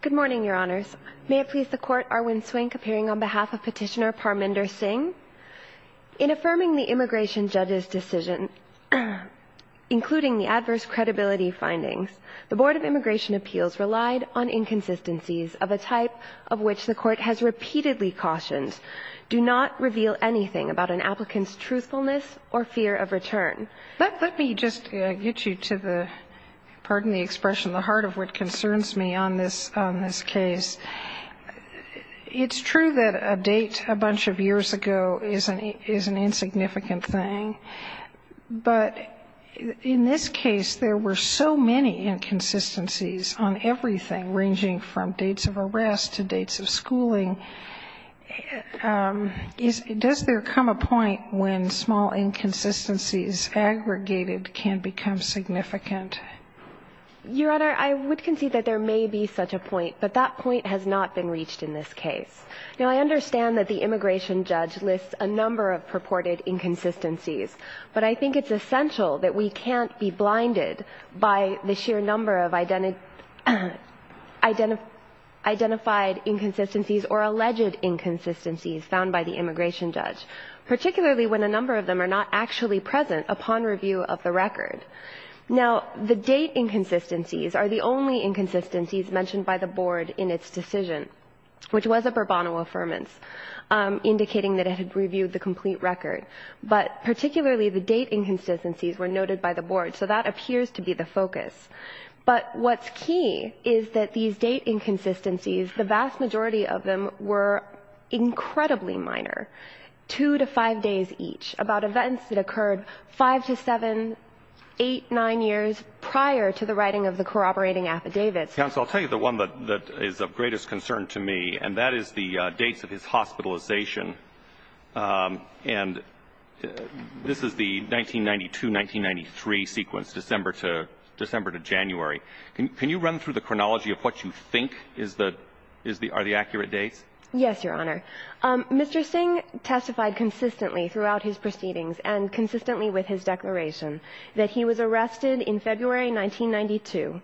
Good morning, Your Honors. May it please the Court, Arwin Swink appearing on behalf of Petitioner Parminder Singh. In affirming the immigration judge's decision, including the adverse credibility findings, the Board of Immigration Appeals relied on inconsistencies of a type of which the Court has repeatedly cautioned do not reveal anything about an applicant's truthfulness or fear of return. And let me just get you to the, pardon the expression, the heart of what concerns me on this case. It's true that a date a bunch of years ago is an insignificant thing. But in this case, there were so many inconsistencies on everything, ranging from dates of arrest to dates of schooling. Does there come a point when small inconsistencies aggregated can become significant? Your Honor, I would concede that there may be such a point, but that point has not been reached in this case. Now, I understand that the immigration judge lists a number of purported inconsistencies, but I think it's essential that we can't be blinded by the sheer number of identified inconsistencies or alleged inconsistencies found by the immigration judge, particularly when a number of them are not actually present upon review of the record. Now, the date inconsistencies are the only inconsistencies mentioned by the Board in its decision, which was a pro bono affirmance, indicating that it had reviewed the complete record. But particularly the date inconsistencies were noted by the Board, so that appears to be the focus. But what's key is that these date inconsistencies, the vast majority of them were incredibly minor, 2 to 5 days each, about events that occurred 5 to 7, 8, 9 years prior to the writing of the corroborating affidavits. Counsel, I'll tell you the one that is of greatest concern to me, and that is the dates of his hospitalization. And this is the 1992-1993 sequence, December to January. Can you run through the chronology of what you think are the accurate dates? Yes, Your Honor. Mr. Singh testified consistently throughout his proceedings and consistently with his declaration that he was arrested in February 1992.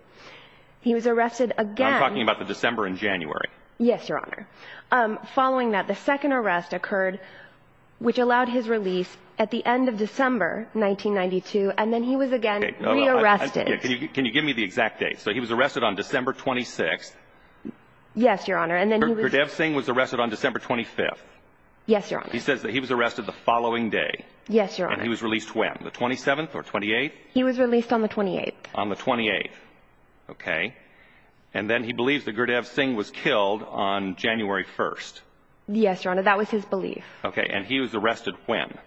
He was arrested again. I'm talking about the December and January. Yes, Your Honor. Following that, the second arrest occurred, which allowed his release at the end of December 1992, and then he was again re-arrested. Can you give me the exact date? So he was arrested on December 26th. Yes, Your Honor. Gurdev Singh was arrested on December 25th. Yes, Your Honor. He says that he was arrested the following day. Yes, Your Honor. And he was released when, the 27th or 28th? He was released on the 28th. On the 28th. Okay. And then he believes that Gurdev Singh was killed on January 1st. Yes, Your Honor. That was his belief. Okay. And he was arrested when?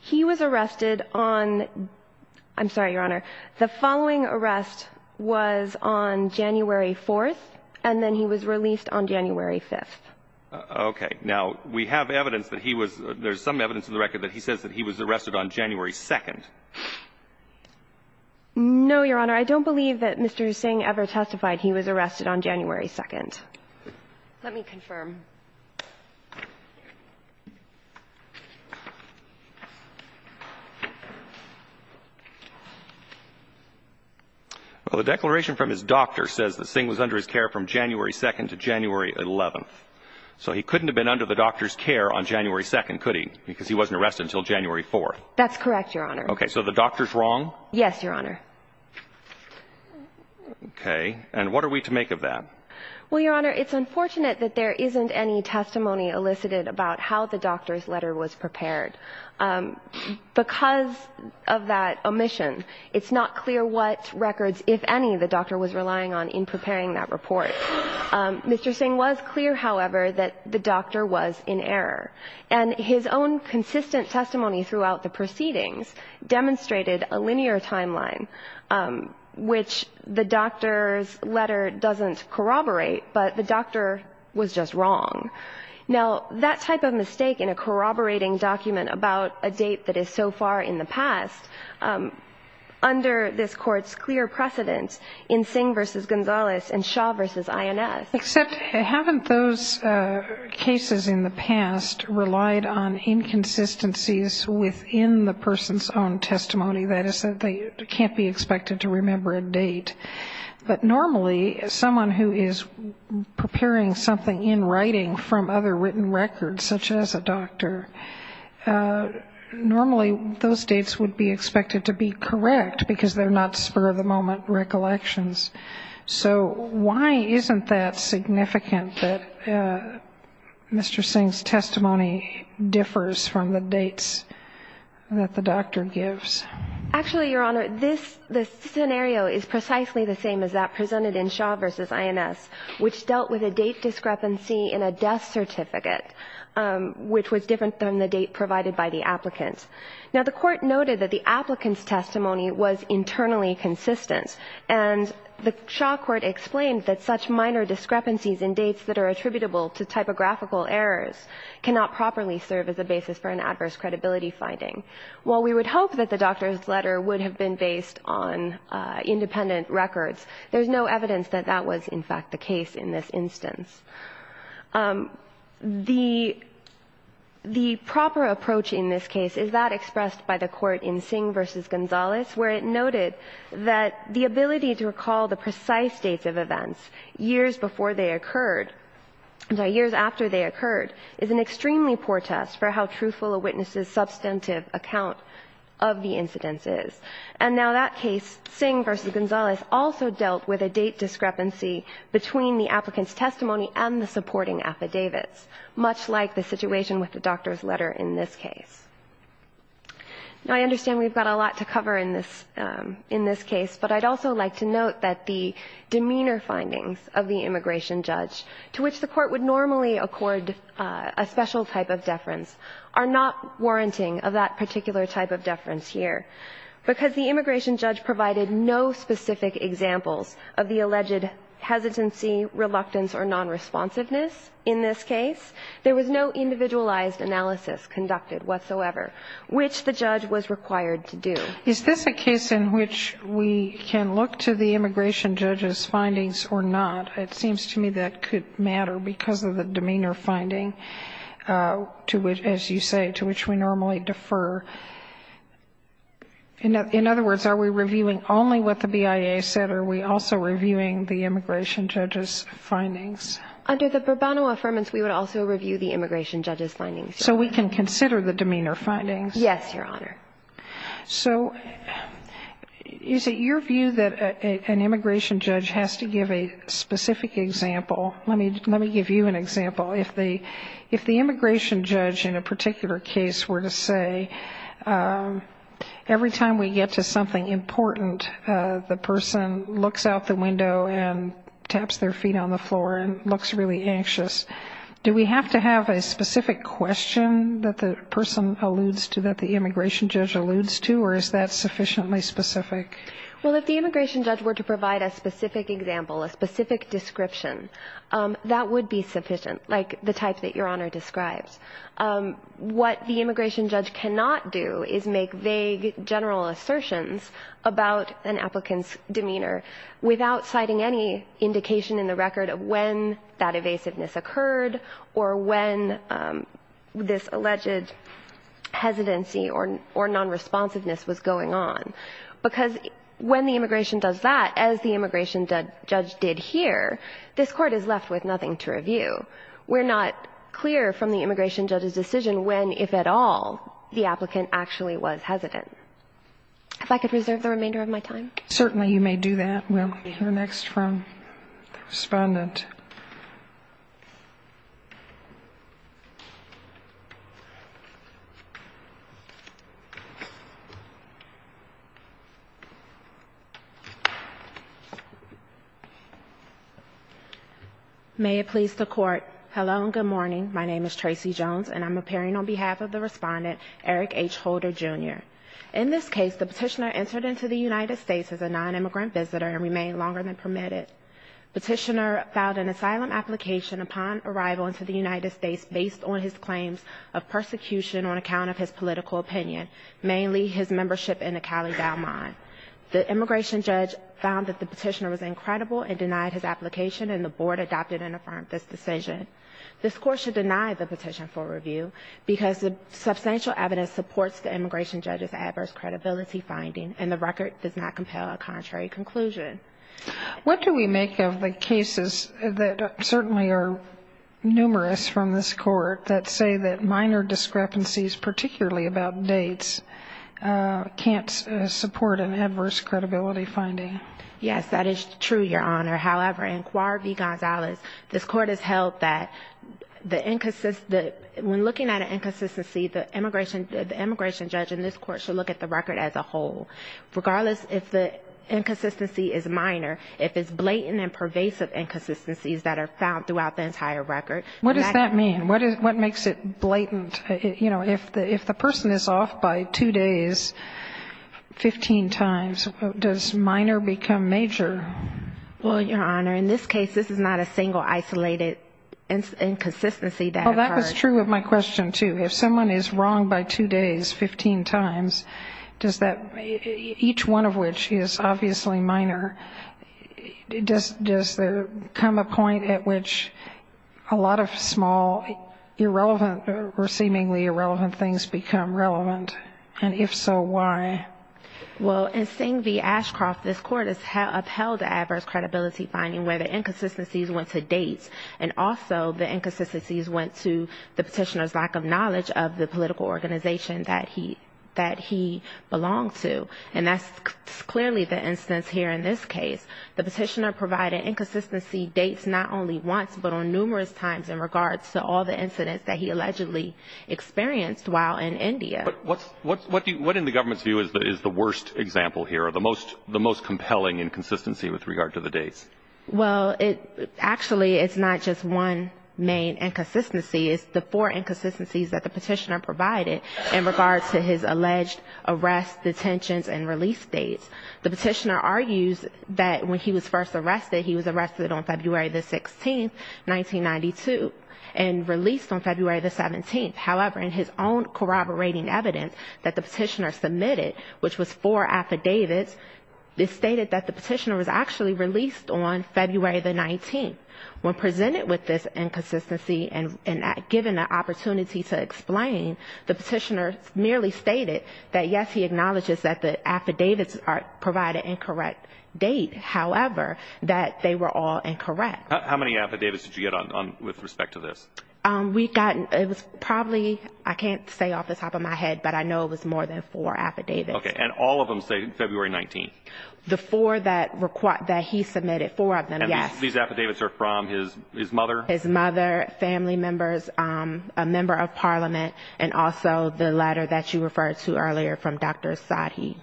He was arrested on – I'm sorry, Your Honor. The following arrest was on January 4th, and then he was released on January 5th. Okay. Now, we have evidence that he was – there's some evidence in the record that he says that he was arrested on January 2nd. No, Your Honor. I don't believe that Mr. Singh ever testified he was arrested on January 2nd. Let me confirm. Well, the declaration from his doctor says that Singh was under his care from January 2nd to January 11th. So he couldn't have been under the doctor's care on January 2nd, could he, because he wasn't arrested until January 4th? That's correct, Your Honor. Okay. So the doctor's wrong? Yes, Your Honor. Okay. And what are we to make of that? Well, Your Honor, it's unfortunate that there isn't any testimony elicited about how the doctor's letter was prepared. Because of that omission, it's not clear what records, if any, the doctor was relying on in preparing that report. Mr. Singh was clear, however, that the doctor was in error. And his own consistent testimony throughout the proceedings demonstrated a linear timeline, which the doctor's letter doesn't corroborate, but the doctor was just wrong. Now, that type of mistake in a corroborating document about a date that is so far in the past, under this Court's clear precedent in Singh v. Gonzalez and Shah v. INS. Except haven't those cases in the past relied on inconsistencies within the person's own testimony, that is that they can't be expected to remember a date? But normally someone who is preparing something in writing from other written records, such as a doctor, normally those dates would be expected to be correct because they're not spur-of-the-moment recollections. So why isn't that significant that Mr. Singh's testimony differs from the dates that the doctor gives? Actually, Your Honor, this scenario is precisely the same as that presented in Shah v. INS, which dealt with a date discrepancy in a death certificate, which was different than the date provided by the applicant. Now, the Court noted that the applicant's testimony was internally consistent. And the Shah Court explained that such minor discrepancies in dates that are attributable to typographical errors cannot properly serve as a basis for an adverse credibility finding. While we would hope that the doctor's letter would have been based on independent records, there's no evidence that that was, in fact, the case in this instance. The proper approach in this case is that expressed by the Court in Singh v. Gonzalez, where it noted that the ability to recall the precise dates of events years before they occurred and years after they occurred is an extremely poor test for how truthful a witness's substantive account of the incidents is. And now that case, Singh v. Gonzalez, also dealt with a date discrepancy between the applicant's testimony and the supporting affidavits, much like the situation with the doctor's letter in this case. Now, I understand we've got a lot to cover in this case, but I'd also like to note that the demeanor findings of the immigration judge, to which the Court would normally accord a special type of deference, are not warranting of that particular type of deference here, because the immigration judge provided no specific examples of the alleged hesitancy, reluctance, or nonresponsiveness in this case. There was no individualized analysis conducted whatsoever, which the judge was required to do. Is this a case in which we can look to the immigration judge's findings or not? It seems to me that could matter because of the demeanor finding to which, as you say, to which we normally defer. In other words, are we reviewing only what the BIA said, or are we also reviewing the immigration judge's findings? Under the pro bono affirmance, we would also review the immigration judge's findings. So we can consider the demeanor findings? Yes, Your Honor. So is it your view that an immigration judge has to give a specific example? Let me give you an example. If the immigration judge in a particular case were to say, every time we get to something important, the person looks out the window and taps their feet on the floor and looks really anxious, do we have to have a specific question that the person alludes to, that the immigration judge alludes to, or is that sufficiently specific? Well, if the immigration judge were to provide a specific example, a specific description, that would be sufficient, like the type that Your Honor describes. What the immigration judge cannot do is make vague general assertions about an applicant's demeanor without citing any indication in the record of when that evasiveness occurred or when this alleged hesitancy or nonresponsiveness was going on, because when the immigration does that, as the immigration judge did here, this Court is left with nothing to review. We're not clear from the immigration judge's decision when, if at all, the applicant actually was hesitant. If I could reserve the remainder of my time. Certainly, you may do that. We'll hear next from the Respondent. May it please the Court. Hello and good morning. My name is Tracy Jones, and I'm appearing on behalf of the Respondent, Eric H. Holder, Jr. In this case, the Petitioner entered into the United States as a nonimmigrant visitor and remained longer than permitted. The Petitioner filed an asylum application upon arrival into the United States based on his claims of persecution on account of his political opinion, mainly his membership in the Cali-Dalmont. The immigration judge found that the Petitioner was incredible and denied his application, and the Board adopted and affirmed this decision. This Court should deny the petition for review because the substantial evidence supports the immigration judge's adverse credibility finding, and the record does not compel a contrary conclusion. What do we make of the cases that certainly are numerous from this Court that say that minor discrepancies, particularly about dates, can't support an adverse credibility finding? Yes, that is true, Your Honor. However, in Cuar v. Gonzales, this Court has held that when looking at an inconsistency, the immigration judge in this Court should look at the record as a whole. Regardless if the inconsistency is minor, if it's blatant and pervasive inconsistencies that are found throughout the entire record. What does that mean? What makes it blatant? You know, if the person is off by two days 15 times, does minor become major? Well, Your Honor, in this case, this is not a single isolated inconsistency that occurred. Well, that was true of my question, too. If someone is wrong by two days 15 times, each one of which is obviously minor, does there come a point at which a lot of small, irrelevant or seemingly irrelevant things become relevant? And if so, why? Well, in Sing v. Ashcroft, this Court has upheld the adverse credibility finding where the inconsistencies went to dates, and also the inconsistencies went to the knowledge of the political organization that he belonged to. And that's clearly the instance here in this case. The petitioner provided inconsistency dates not only once, but on numerous times in regards to all the incidents that he allegedly experienced while in India. But what in the government's view is the worst example here, or the most compelling inconsistency with regard to the dates? Well, actually, it's not just one main inconsistency. It's the four inconsistencies that the petitioner provided in regards to his alleged arrest, detentions and release dates. The petitioner argues that when he was first arrested, he was arrested on February 16, 1992, and released on February 17. However, in his own corroborating evidence that the petitioner submitted, which was four affidavits, it stated that the petitioner was actually released on February 19. When presented with this inconsistency and given an opportunity to explain, the petitioner merely stated that, yes, he acknowledges that the affidavits provide an incorrect date. However, that they were all incorrect. How many affidavits did you get with respect to this? We got probably, I can't say off the top of my head, but I know it was more than four affidavits. Okay. And all of them say February 19? The four that he submitted, four of them, yes. These affidavits are from his mother? His mother, family members, a member of parliament, and also the letter that you referred to earlier from Dr. Asahi.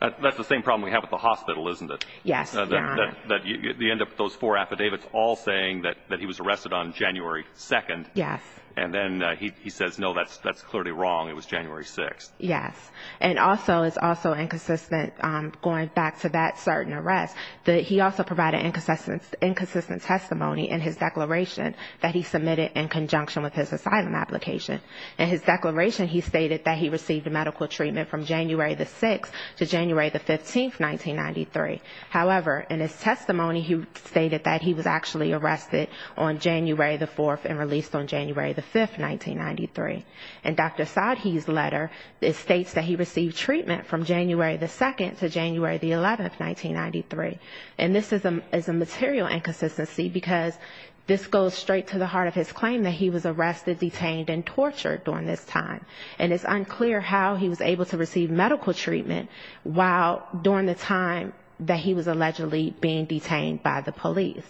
That's the same problem we have with the hospital, isn't it? Yes, Your Honor. You end up with those four affidavits all saying that he was arrested on January 2. Yes. And then he says, no, that's clearly wrong, it was January 6. Yes. And also, it's also inconsistent, going back to that certain arrest, that he also provided inconsistent testimony in his declaration that he submitted in conjunction with his asylum application. In his declaration, he stated that he received medical treatment from January 6 to January 15, 1993. However, in his testimony, he stated that he was actually arrested on January 4 and released on January 5, 1993. In Dr. Asahi's letter, it states that he received treatment from January 2 to January 11, 1993. And this is a material inconsistency, because this goes straight to the heart of his claim that he was arrested, detained, and tortured during this time. And it's unclear how he was able to receive medical treatment while during the time that he was allegedly being detained by the police.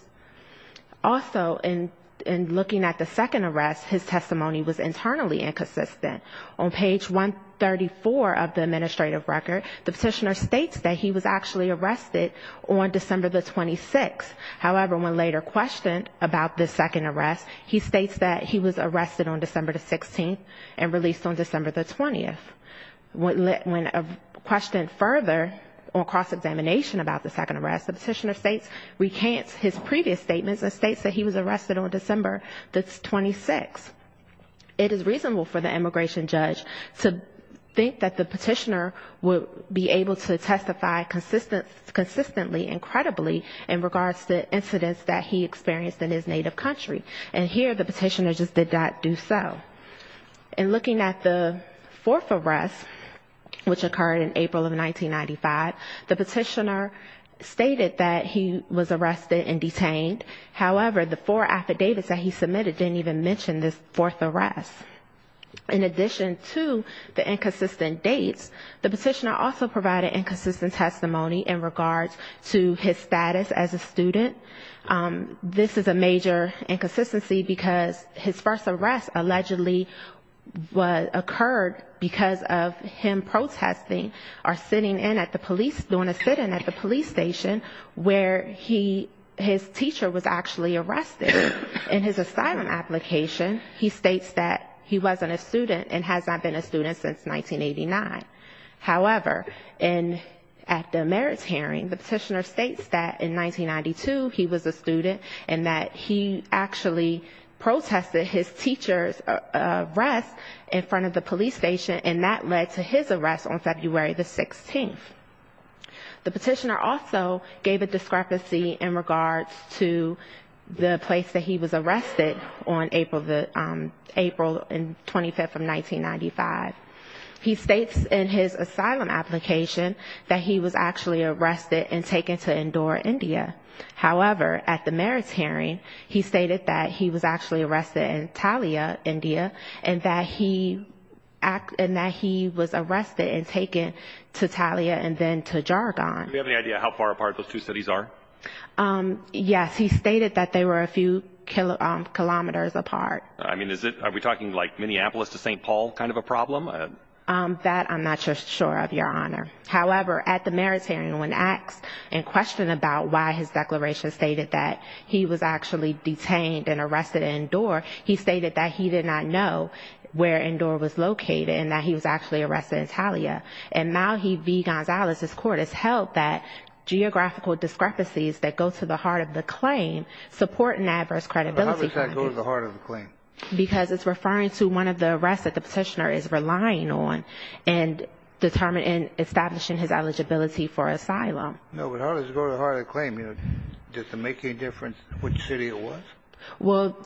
Also, in looking at the second arrest, his testimony was internally inconsistent. On page 134 of the administrative record, the petitioner states that he was actually arrested on December the 26th. However, when later questioned about the second arrest, he states that he was arrested on December the 16th and released on December the 20th. When questioned further on cross-examination about the second arrest, the petitioner states, recants his previous statements and states that he was arrested on December the 26th. It is reasonable for the immigration judge to think that the petitioner would be able to testify consistently and credibly in regards to incidents that he experienced in his native country. And here, the petitioner just did not do so. In looking at the fourth arrest, which occurred in April of 1995, the petitioner stated that he was arrested and detained. However, the four affidavits that he submitted didn't even mention this fourth arrest. In addition to the inconsistent dates, the petitioner also provided inconsistent testimony in regards to his status as a student. This is a major inconsistency because his first arrest allegedly occurred because of him protesting or sitting in at the police, doing a sit-in at the police station where he, his teacher was actually arrested. In his asylum application, he states that he wasn't a student and has not been a student since 1989. However, in, at the merits hearing, the petitioner states that in 1992 he was a student and that he actually protested his teacher's arrest in front of the police station, and that led to his arrest on February the 16th. The petitioner also gave a discrepancy in regards to the place that he was arrested on April the, April 25th of 1995. He states in his asylum application that he was actually arrested and taken to Indore, India. However, at the merits hearing, he stated that he was actually arrested in Talia, India, and that he, and that he was arrested and taken to Talia and then to Jargon. Do we have any idea how far apart those two cities are? Yes. He stated that they were a few kilometers apart. I mean, is it, are we talking like Minneapolis to St. Paul kind of a problem? That I'm not sure of, Your Honor. However, at the merits hearing, when asked and questioned about why his declaration stated that he was actually detained and arrested in Indore, he stated that he did not know where Indore was located and that he was actually arrested in Talia. And Malhe V. Gonzalez's court has held that geographical discrepancies that go to the heart of the claim support an adverse credibility claim. How does that go to the heart of the claim? Because it's referring to one of the arrests that the petitioner is relying on and establishing his eligibility for asylum. No, but how does it go to the heart of the claim? Does it make any difference which city it was? Well,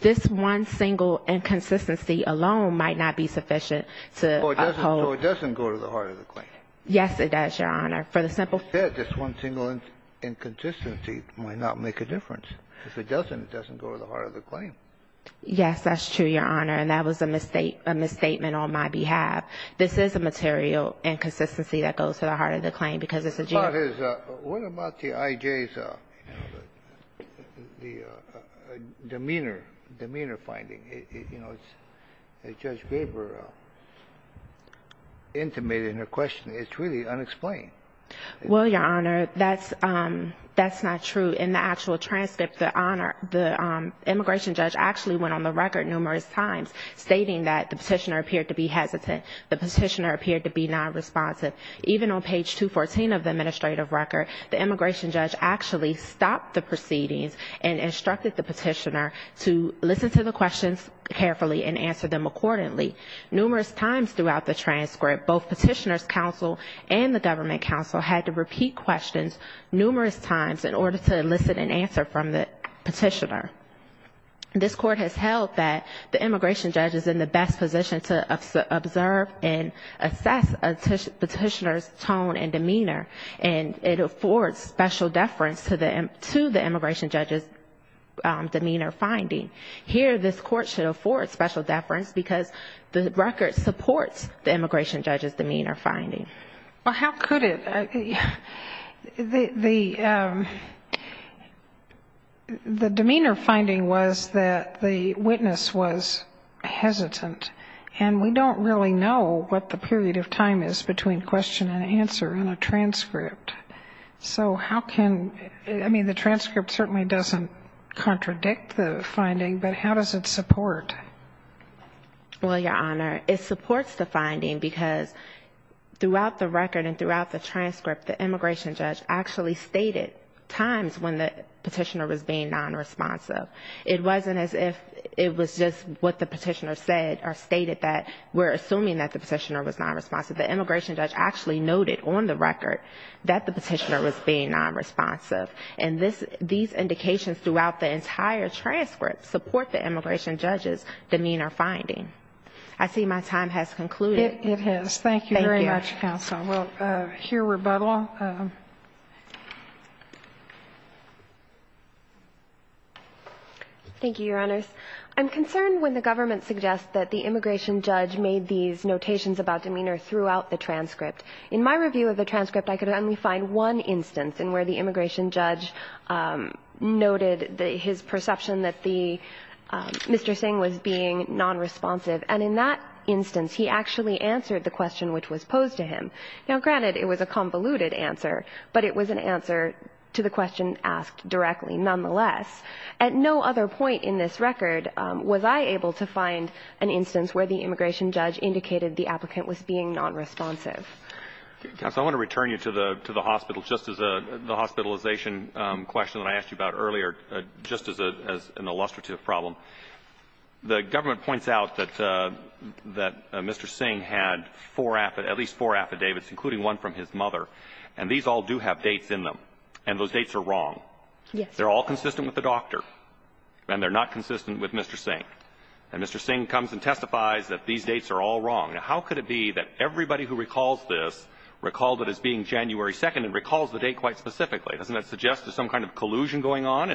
this one single inconsistency alone might not be sufficient to uphold. So it doesn't go to the heart of the claim? Yes, it does, Your Honor. For the simple fact. That just one single inconsistency might not make a difference. If it doesn't, it doesn't go to the heart of the claim. Yes, that's true, Your Honor. And that was a misstatement on my behalf. This is a material inconsistency that goes to the heart of the claim because it's a general. What about his, what about the I.J.'s demeanor, demeanor finding? You know, Judge Gaber intimated in her question, it's really unexplained. Well, Your Honor, that's not true. In the actual transcript, the immigration judge actually went on the record numerous times stating that the petitioner appeared to be hesitant. The petitioner appeared to be nonresponsive. Even on page 214 of the administrative record, the immigration judge actually stopped the proceedings and instructed the petitioner to listen to the questions carefully and answer them accordingly. Numerous times throughout the transcript, both Petitioner's Counsel and the Government Counsel had to repeat questions numerous times in order to elicit an answer from the petitioner. This Court has held that the immigration judge is in the best position to observe and assess a petitioner's tone and demeanor, and it affords special deference to the immigration judge's demeanor finding. Here, this Court should afford special deference because the record supports the immigration judge's demeanor finding. Well, how could it? The demeanor finding was that the witness was hesitant, and we don't really know what the period of time is between question and answer in a transcript. So how can the transcript certainly doesn't contradict the finding, but how does it support? Well, Your Honor, it supports the finding because throughout the record and throughout the transcript, the immigration judge actually stated times when the petitioner was being nonresponsive. It wasn't as if it was just what the petitioner said or stated that we're assuming that the petitioner was nonresponsive. The immigration judge actually noted on the record that the petitioner was being nonresponsive, and these indications throughout the entire transcript support the immigration judge's demeanor finding. I see my time has concluded. It has. Thank you very much, counsel. Thank you. We'll hear rebuttal. Thank you, Your Honors. I'm concerned when the government suggests that the immigration judge made these notations about demeanor throughout the transcript. In my review of the transcript, I could only find one instance in where the immigration judge noted his perception that Mr. Singh was being nonresponsive, and in that instance, he actually answered the question which was posed to him. Now, granted, it was a convoluted answer, but it was an answer to the question asked directly nonetheless. At no other point in this record was I able to find an instance where the immigration judge indicated the applicant was being nonresponsive. Counsel, I want to return you to the hospital, just as the hospitalization question that I asked you about earlier, just as an illustrative problem. The government points out that Mr. Singh had four affidavits, at least four affidavits, including one from his mother, and these all do have dates in them. And those dates are wrong. Yes. They're all consistent with the doctor, and they're not consistent with Mr. Singh. And Mr. Singh comes and testifies that these dates are all wrong. Now, how could it be that everybody who recalls this recalled it as being January 2nd and recalls the date quite specifically? Doesn't that suggest there's some kind of collusion going on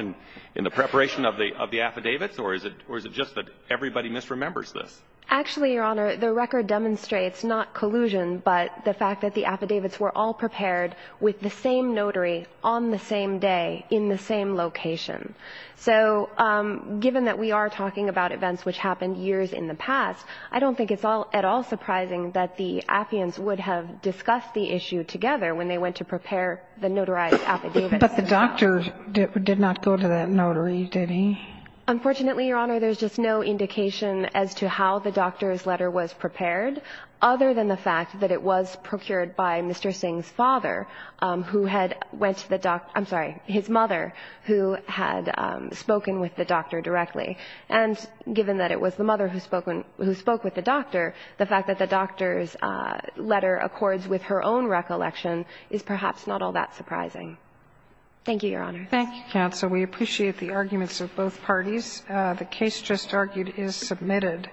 in the preparation of the affidavits, or is it just that everybody misremembers this? Actually, Your Honor, the record demonstrates not collusion, but the fact that the affidavits were all prepared with the same notary on the same day in the same location. So given that we are talking about events which happened years in the past, I don't think it's at all surprising that the affiants would have discussed the issue together when they went to prepare the notarized affidavits. But the doctor did not go to that notary, did he? Unfortunately, Your Honor, there's just no indication as to how the doctor's letter was prepared, other than the fact that it was procured by Mr. Singh's father, who had went to the doctor – I'm sorry, his mother, who had spoken with the doctor directly. And given that it was the mother who spoke with the doctor, the fact that the doctor's letter accords with her own recollection is perhaps not all that surprising. Thank you, Your Honor. Thank you, counsel. We appreciate the arguments of both parties. The case just argued is submitted.